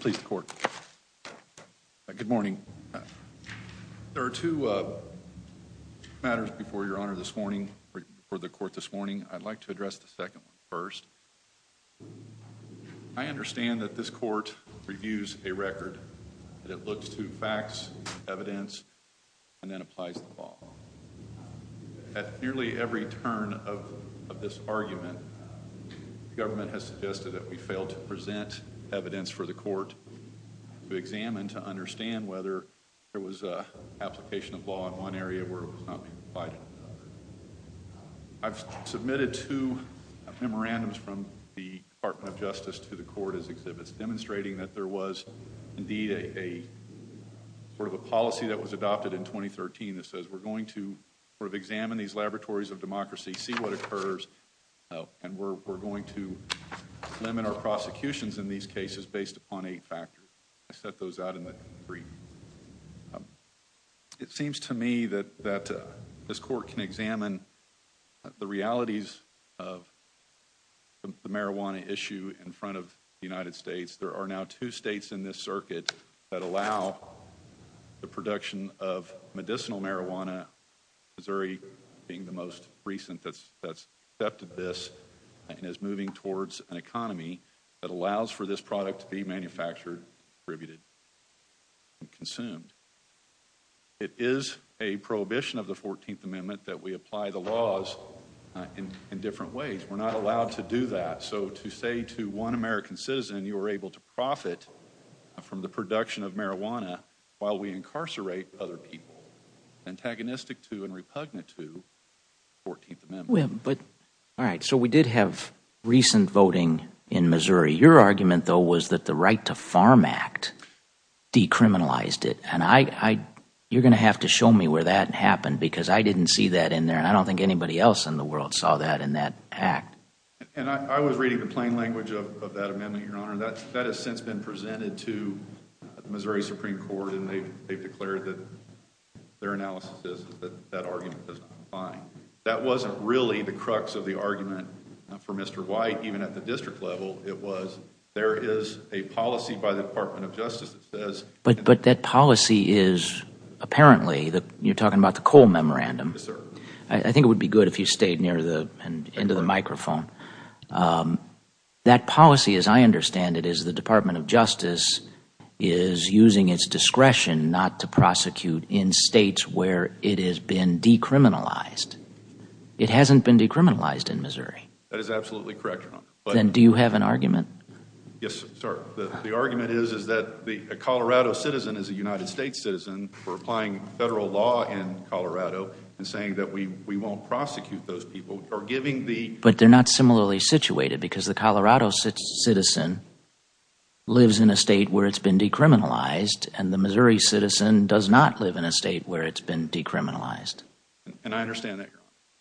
please the court good morning there are two matters before your honor this morning for the court this morning I'd like to address the second one first I understand that this court reviews a record that it looks to facts evidence and then applies the law at nearly every turn of this argument the government has suggested that we failed to present evidence for the court to examine to understand whether there was a application of law in one area where I've submitted two memorandums from the Department of Justice to the court as exhibits demonstrating that there was indeed a sort of a policy that was adopted in 2013 that says we're going to sort of examine these laboratories of prosecutions in these cases based upon a factor I set those out in the brief it seems to me that that this court can examine the realities of the marijuana issue in front of the United States there are now two states in this circuit that allow the production of medicinal marijuana Missouri being the most recent that's that's step to this and is moving towards an economy that allows for this product to be manufactured attributed and consumed it is a prohibition of the 14th amendment that we apply the laws in different ways we're not allowed to do that so to say to one American citizen you are able to profit from the production of marijuana while we incarcerate other people antagonistic to and repugnant to but all right so we did have recent voting in Missouri your argument though was that the right to farm act decriminalized it and I you're gonna have to show me where that happened because I didn't see that in there I don't think anybody else in the world saw that in that act and I was reading the plain language of that amendment your honor that that has since been presented to Missouri Supreme Court and they've declared that their analysis that wasn't really the crux of the argument for mr. white even at the district level it was there is a policy by the Department of Justice but but that policy is apparently that you're talking about the coal memorandum sir I think it would be good if you stayed near the end of the microphone that policy as I understand it is the Department of Justice is using its discretion not to prosecute in states where it has been decriminalized it hasn't been decriminalized in Missouri that is absolutely correct but then do you have an argument yes the argument is is that the Colorado citizen is a United States citizen for applying federal law in Colorado and saying that we we won't prosecute those people are giving the but they're not similarly situated because the Colorado citizen lives in a state where it's been decriminalized and the Missouri citizen does not live in a state where it's been decriminalized and I understand that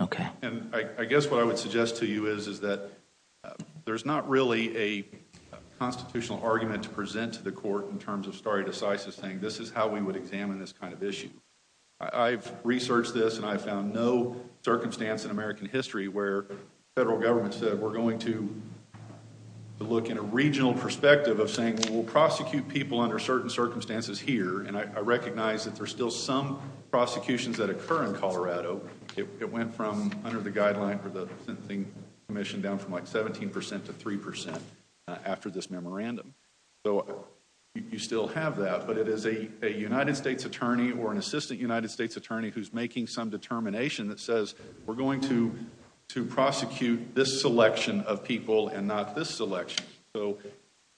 okay and I guess what I would suggest to you is is that there's not really a constitutional argument to present to the court in terms of stare decisis thing this is how we would examine this kind of issue I've researched this and I found no circumstance in American history where federal government said we're going to look in a regional perspective of saying we'll prosecute people under certain circumstances here and I recognize that there's still some prosecutions that occur in Colorado it went from under the guideline for the commission down from like 17 percent to 3 percent after this memorandum so you still have that but it is a United States attorney or an assistant United States attorney who's making some determination that says we're going to to prosecute this selection of people and not this election so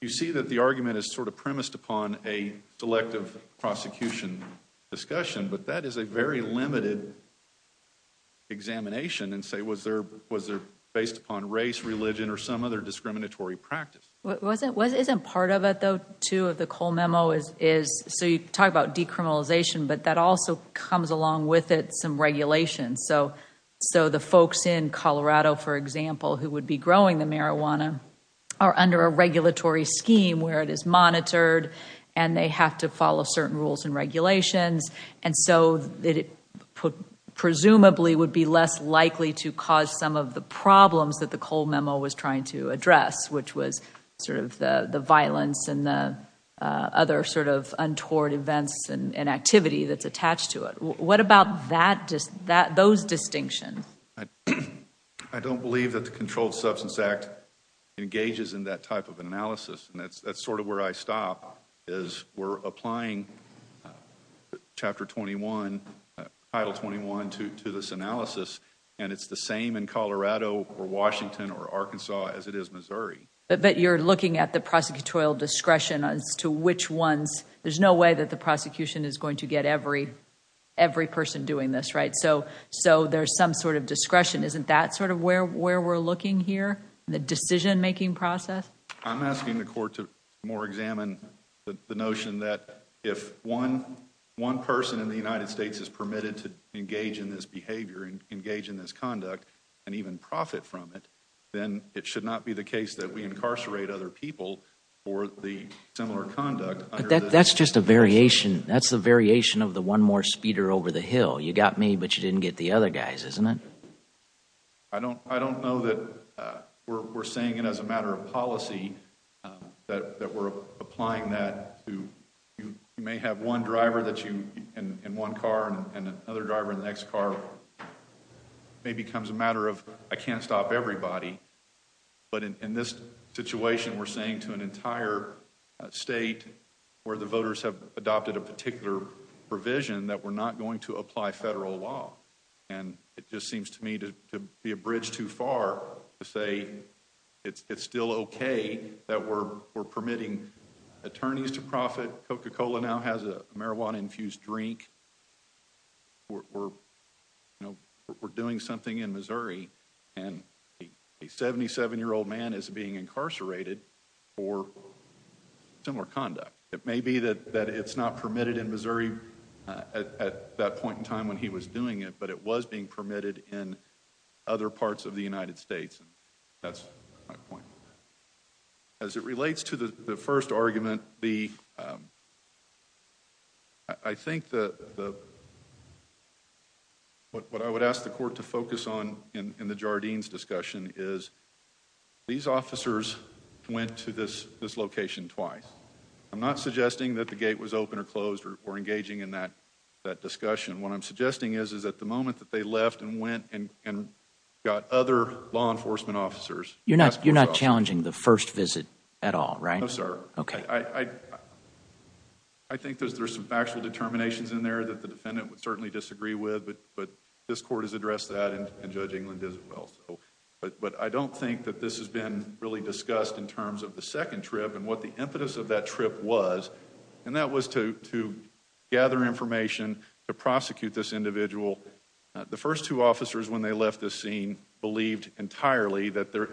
you see that the argument is sort of premised upon a selective prosecution discussion but that is a very limited examination and say was there was there based upon race religion or some other discriminatory practice wasn't wasn't part of it though two of the Cole memo is is so you talk about decriminalization but that also comes along with it some regulations so so the under a regulatory scheme where it is monitored and they have to follow certain rules and regulations and so that it put presumably would be less likely to cause some of the problems that the Cole memo was trying to address which was sort of the the violence and the other sort of untoward events and inactivity that's attached to it what about that just that those distinctions I don't believe that the Controlled Substance Act engages in that type of analysis and that's that's sort of where I stop is we're applying chapter 21 title 21 to this analysis and it's the same in Colorado or Washington or Arkansas as it is Missouri but you're looking at the prosecutorial discretion as to which ones there's no way that the prosecution is going to get every every person doing this right so so there's some sort of discretion isn't that sort of where where we're looking here the decision-making process I'm asking the court to more examine the notion that if one one person in the United States is permitted to engage in this behavior and engage in this conduct and even profit from it then it should not be the case that we incarcerate other people or the similar conduct that's just a variation that's the variation of the one more speeder over the hill you got me but you didn't get the other guys isn't it I don't I don't know that we're saying it as a matter of policy that we're applying that you may have one driver that you in one car and another driver in the next car may becomes a matter of I can't stop everybody but in this situation we're saying to an entire state where the voters have adopted a we're not going to apply federal law and it just seems to me to be a bridge too far to say it's still okay that we're we're permitting attorneys to profit coca-cola now has a marijuana infused drink we're you know we're doing something in Missouri and a 77 year old man is being incarcerated for similar that point in time when he was doing it but it was being permitted in other parts of the United States that's my point as it relates to the first argument the I think that what I would ask the court to focus on in the Jardines discussion is these officers went to this this location twice I'm not that the gate was open or closed or engaging in that that discussion what I'm suggesting is is at the moment that they left and went and got other law enforcement officers you're not you're not challenging the first visit at all right sir okay I I think there's there's some factual determinations in there that the defendant would certainly disagree with but but this court has addressed that and judgingly does it well but but I don't think that this has been really discussed in terms of the second trip and what the impetus of that trip was and that was to to gather information to prosecute this individual the first two officers when they left the scene believed entirely that there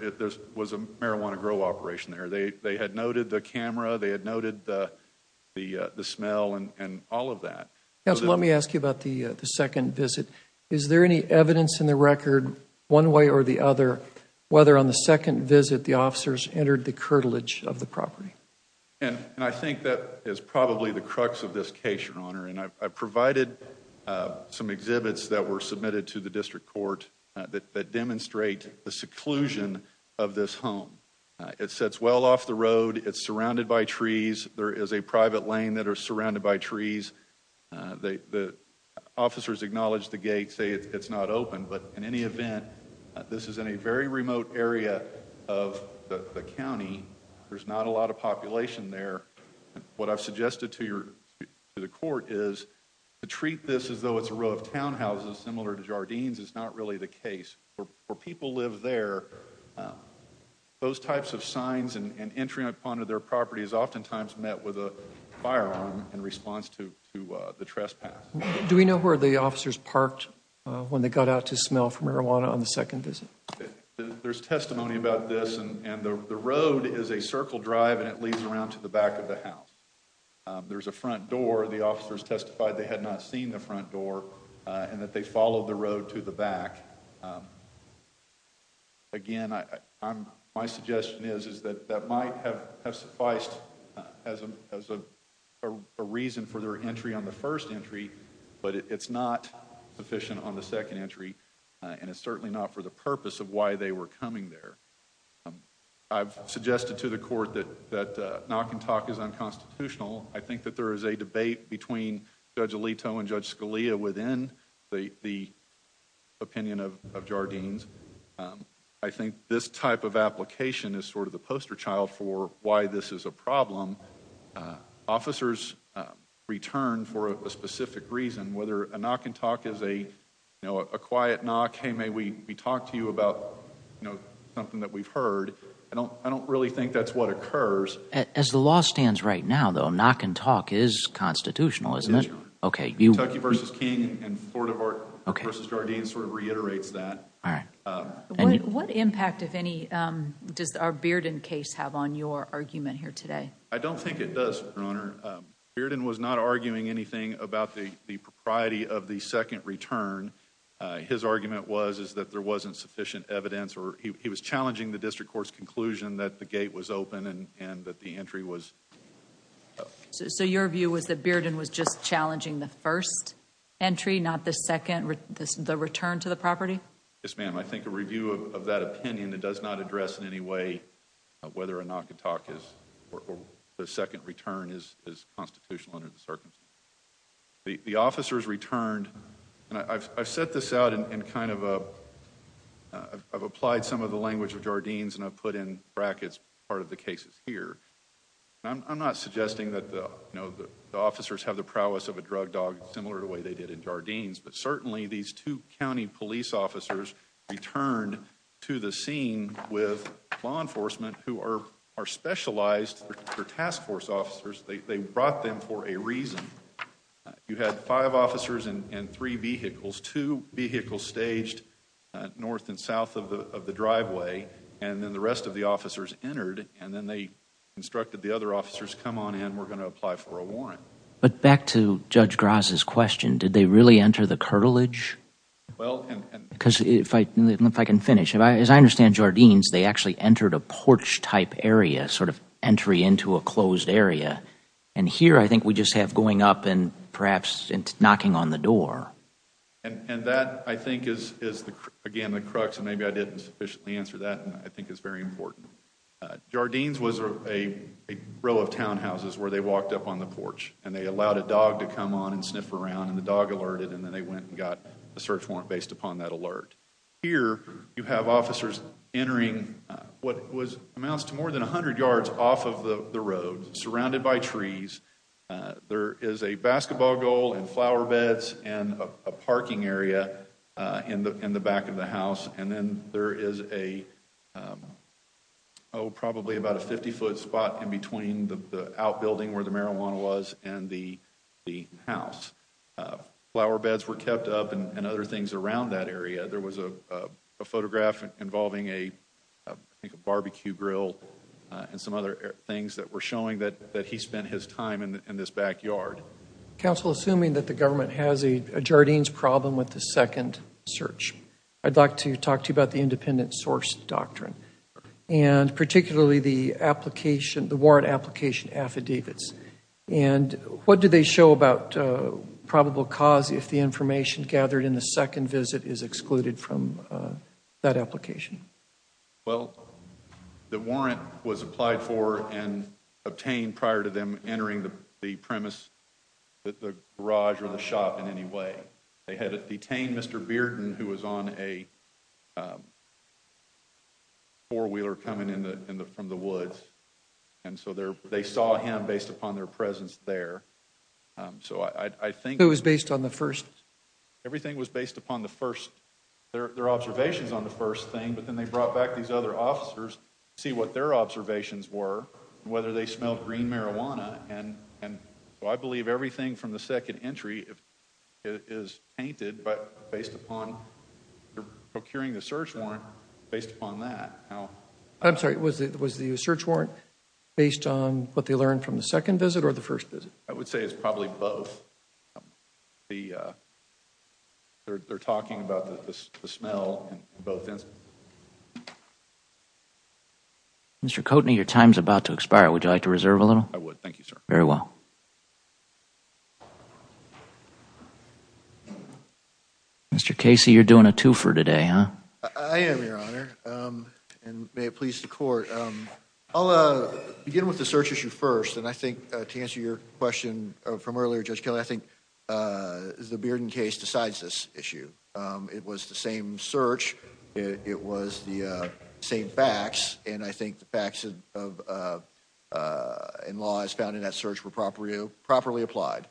was a marijuana grow operation there they they had noted the camera they had noted the the the smell and all of that yes let me ask you about the the second visit is there any evidence in the record one way or the other whether on a second visit the officers entered the curtilage of the property and and I think that is probably the crux of this case your honor and I've provided some exhibits that were submitted to the district court that demonstrate the seclusion of this home it sets well off the road it's surrounded by trees there is a private lane that are surrounded by trees they the officers acknowledged the gate say it's not open but in any event this is in a very remote area of the county there's not a lot of population there what I've suggested to your to the court is to treat this as though it's a row of townhouses similar to Jardines is not really the case where people live there those types of signs and entry upon to their property is oftentimes met with a firearm in the officers parked when they got out to smell from marijuana on the second visit there's testimony about this and the road is a circle drive and it leads around to the back of the house there's a front door the officers testified they had not seen the front door and that they followed the road to the back again I I'm my suggestion is is that that might have sufficed as a reason for entry on the first entry but it's not sufficient on the second entry and it's certainly not for the purpose of why they were coming there I've suggested to the court that that knock and talk is unconstitutional I think that there is a debate between judge Alito and judge Scalia within the opinion of Jardines I think this type of application is sort of the poster child for why this is a for a specific reason whether a knock and talk is a you know a quiet knock hey may we we talked to you about you know something that we've heard I don't I don't really think that's what occurs as the law stands right now though knock and talk is constitutional isn't it okay you versus King and sort of our okay versus Jardines sort of reiterates that all right and what impact if any does our Bearden case have on your argument here today I don't think it does your Bearden was not arguing anything about the the propriety of the second return his argument was is that there wasn't sufficient evidence or he was challenging the district courts conclusion that the gate was open and and that the entry was so your view was that Bearden was just challenging the first entry not the second the return to the property yes ma'am I think a review of that opinion that does not address in any way whether or not could talk is the second return is constitutional under the circumstances the officers returned and I've set this out in kind of a I've applied some of the language of Jardines and I've put in brackets part of the cases here I'm not suggesting that the you know the officers have the prowess of a drug dog similar to the way they did in Jardines but certainly these two county police officers returned to the with law enforcement who are are specialized task force officers they brought them for a reason you had five officers and three vehicles two vehicles staged north and south of the driveway and then the rest of the officers entered and then they instructed the other officers come on in we're going to apply for a warrant but back to judge Graza's question did they really enter the cartilage because if I can finish if I as I understand Jardines they actually entered a porch type area sort of entry into a closed area and here I think we just have going up and perhaps and knocking on the door and that I think is again the crux and maybe I didn't sufficiently answer that I think it's very important Jardines was a row of townhouses where they walked up on the porch and they allowed a dog to come on and sniff around and the dog alerted and then they went and got a search warrant based upon that alert here you have officers entering what was amounts to more than a hundred yards off of the road surrounded by trees there is a basketball goal and flower beds and a parking area in the in the back of the house and then there is a Oh probably about a 50-foot spot in between the outbuilding where the marijuana was and the house flower beds were kept up and other things around that area there was a photograph involving a barbecue grill and some other things that were showing that that he spent his time in this backyard council assuming that the government has a Jardines problem with the second search I'd like to talk to you about the independent source doctrine and particularly the application the warrant application affidavits and what do they show about probable cause if the information gathered in the second visit is excluded from that application well the warrant was applied for and obtained prior to them entering the premise that the garage or the shop in any way they had detained mr. Bearden who was on a four-wheeler coming in from the woods and so there they saw him based upon their presence there so I think it was based on the first everything was based upon the first their observations on the first thing but then they brought back these other officers see what their observations were whether they smelled green marijuana and and I believe everything from the second entry if it is painted but based upon procuring the search warrant based upon that how I'm sorry was it was the search warrant based on what they learned from the second visit or the first visit I would say it's probably both the they're talking about the smell both ends mr. Coatney your time's about to expire would you like to reserve a little I would thank you sir very well mr. Casey you're doing a twofer today huh I am your honor and may it please the court I'll uh begin with the search issue first and I think to answer your question from earlier judge Kelly I think the Bearden case decides this issue it was the same search it was the same facts and I think the facts of and laws found in that search were proper you properly applied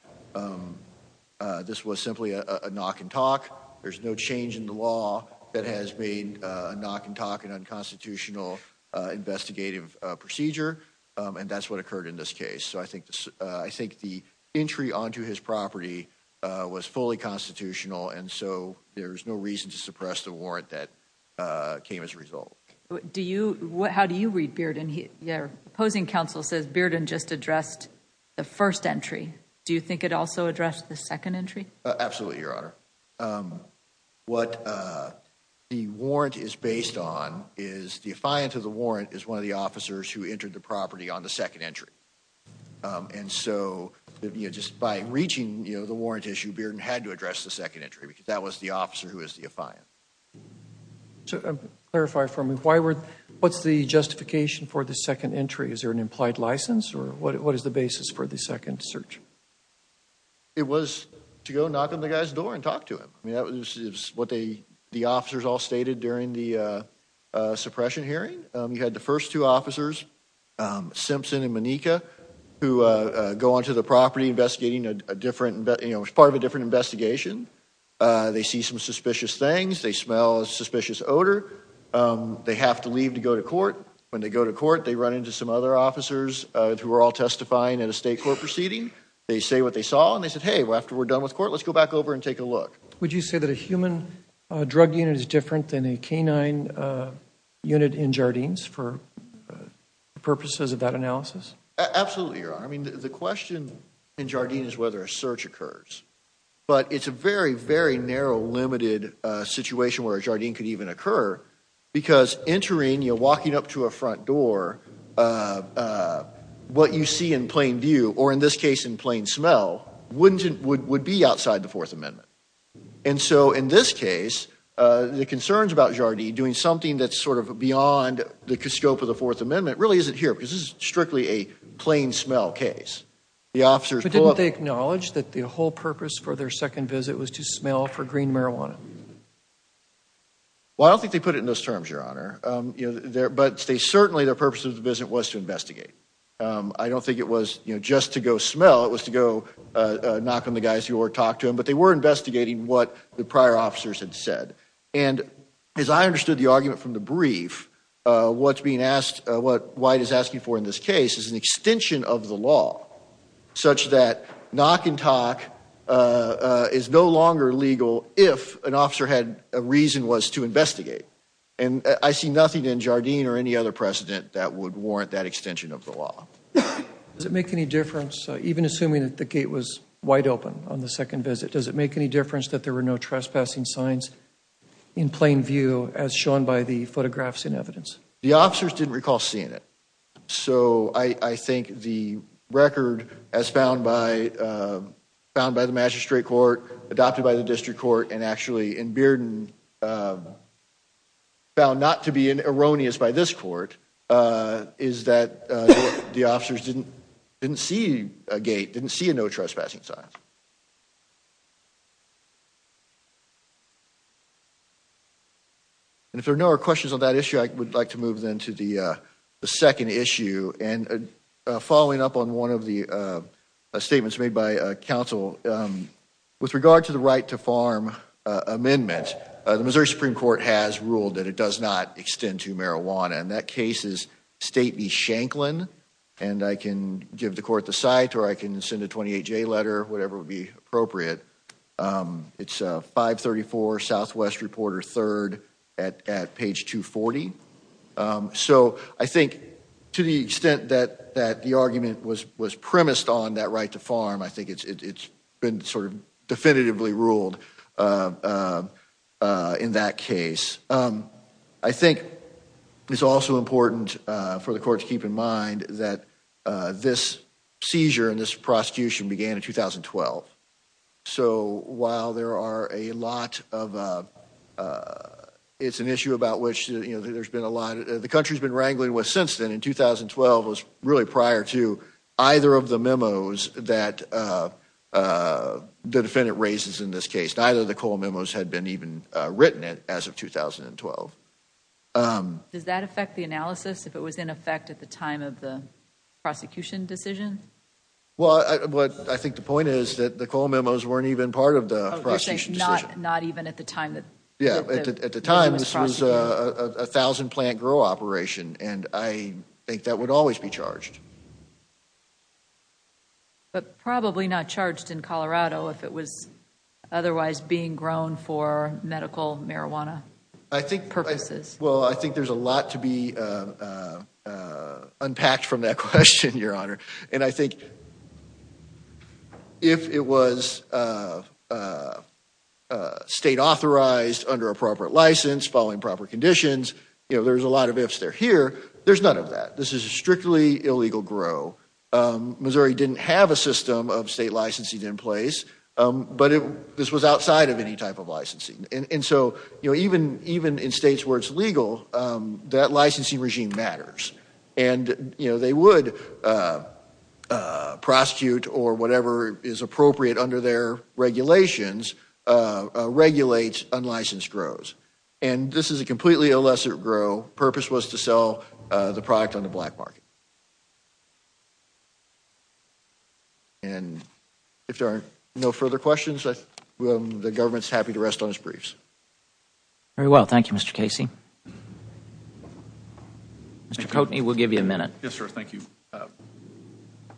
this was simply a knock and talk there's no change in the law that has been a knock and talk an unconstitutional investigative procedure and that's what occurred in this case so I think this I think the entry onto his property was fully constitutional and so there's no reason to suppress the warrant that came as a result do you what how do you read Bearden here opposing counsel says Bearden just addressed the first entry do you think it also addressed the second entry absolutely your honor what the warrant is based on is the affiant of the warrant is one of the officers who entered the property on the second entry and so just by reaching you know the warrant issue Bearden had to for me why were what's the justification for the second entry is there an implied license or what is the basis for the second search it was to go knock on the guy's door and talk to him I mean that was what they the officers all stated during the suppression hearing you had the first two officers Simpson and Maneka who go on to the property investigating a different but you know it's part of a different investigation they see some suspicious things they smell a suspicious odor they have to leave to go to court when they go to court they run into some other officers who are all testifying at a state court proceeding they say what they saw and they said hey well after we're done with court let's go back over and take a look would you say that a human drug unit is different than a canine unit in Jardines for purposes of that analysis absolutely your honor I mean the question in Jardines whether a search occurs but it's a very very narrow limited situation where a Jardine could even occur because entering you're walking up to a front door what you see in plain view or in this case in plain smell wouldn't it would would be outside the Fourth Amendment and so in this case the concerns about Jardine doing something that's sort of beyond the scope of the Fourth Amendment really isn't here because this is strictly a plain smell case the officers didn't they acknowledge that the whole purpose for their second visit was to smell for green marijuana well I don't think they put it in those terms your honor you know there but they certainly their purpose of the visit was to investigate I don't think it was you know just to go smell it was to go knock on the guys who or talk to him but they were investigating what the prior officers had said and as I understood the argument from the brief what's being asked what white is asking for in this case is an extension of the law such that knock and talk is no longer legal if an officer had a reason was to investigate and I see nothing in Jardine or any other precedent that would warrant that extension of the law does it make any difference even assuming that the gate was wide open on the second visit does it make any difference that there were no trespassing signs in plain view as shown by the photographs in evidence the officers didn't recall seeing it so I I think the record as found by found by the magistrate court adopted by the district court and actually in Bearden found not to be an erroneous by this court is that the officers didn't didn't see a gate didn't see a no trespassing sign and if there are no questions on that issue I would like to move them to the second issue and following up on one of the statements made by a council with regard to the right to farm amendment the Missouri Supreme Court has ruled that it does not extend to marijuana and that case is state be Shanklin and I can give the court the site or I can send a 28 J letter whatever would be appropriate it's 534 Southwest reporter third at page 240 so I think to the extent that that the argument was was premised on that right to farm I think it's it's been sort of definitively ruled in that case I think it's also important for the court to keep in mind that this seizure and this prosecution began in 2012 so while there are a lot of it's an issue about which you know there's been a lot of the country's been wrangling with since then in 2012 was really prior to either of the memos that the defendant raises in this case neither the coal memos had been even written it as of 2012 does that affect the analysis if it was in effect at the time of the prosecution decision well what I think the point is that the coal memos weren't even part of the not even at the time that yeah at the time this was a thousand plant grow operation and I think that would always be charged but probably not charged in Colorado if it was otherwise being grown for medical marijuana I think purposes well I think there's a lot to be unpacked from that your honor and I think if it was state authorized under appropriate license following proper conditions you know there's a lot of ifs they're here there's none of that this is strictly illegal grow Missouri didn't have a system of state licensing in place but if this was outside of any type of licensing and so you know even even in states where it's legal that licensing regime matters and you know they would prosecute or whatever is appropriate under their regulations regulates unlicensed grows and this is a completely illicit grow purpose was to sell the product on the black market and if there are no further questions that the government's happy to rest on his mr. Cote he will give you a minute yes sir thank you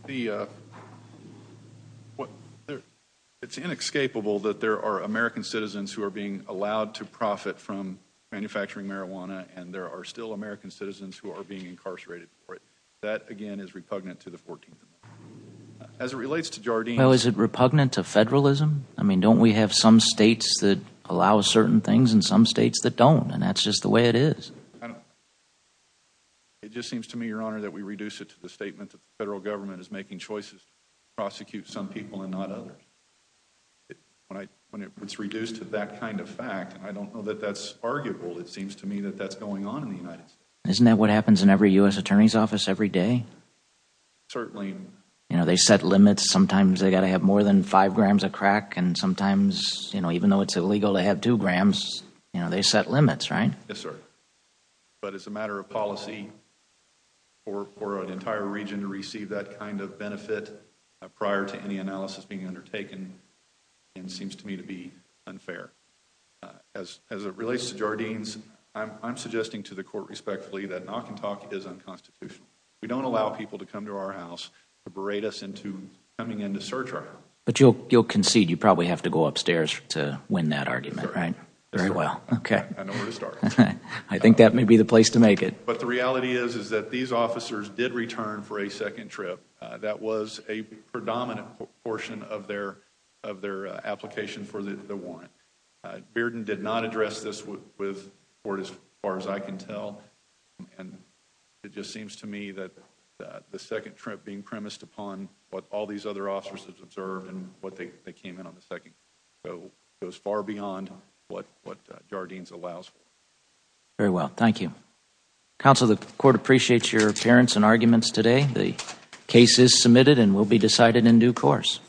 the what it's inescapable that there are American citizens who are being allowed to profit from manufacturing marijuana and there are still American citizens who are being incarcerated for it that again is repugnant to the 14th as it relates to Jardine well is it repugnant to federalism I mean don't we have some states that allow certain things in some states that don't and that's just the way it is it just seems to me your honor that we reduce it to the statement that the federal government is making choices prosecute some people and not others when I when it was reduced to that kind of fact I don't know that that's arguable it seems to me that that's going on in the United isn't that what happens in every US Attorney's Office every day certainly you know they set limits sometimes they got to have more than five grams of crack and sometimes you know even though it's illegal to have two grams you know they set limits right yes sir but it's a matter of policy or an entire region to receive that kind of benefit prior to any analysis being undertaken and seems to me to be unfair as it relates to Jardine's I'm suggesting to the court respectfully that knock-and-talk is unconstitutional we don't allow people to come to our house to berate us into coming in to search her but you'll you'll concede you probably have to go upstairs to win that argument right very well okay I think that may be the place to make it but the reality is is that these officers did return for a second trip that was a predominant portion of their of their application for the warrant Bearden did not address this with with for as far as I can tell and it just seems to me that the second trip being premised upon what all these other officers have observed and what they came in on the second so it was far beyond what what Jardine's allows very well thank you counsel the court appreciates your appearance and arguments today the case is submitted and will be decided in due course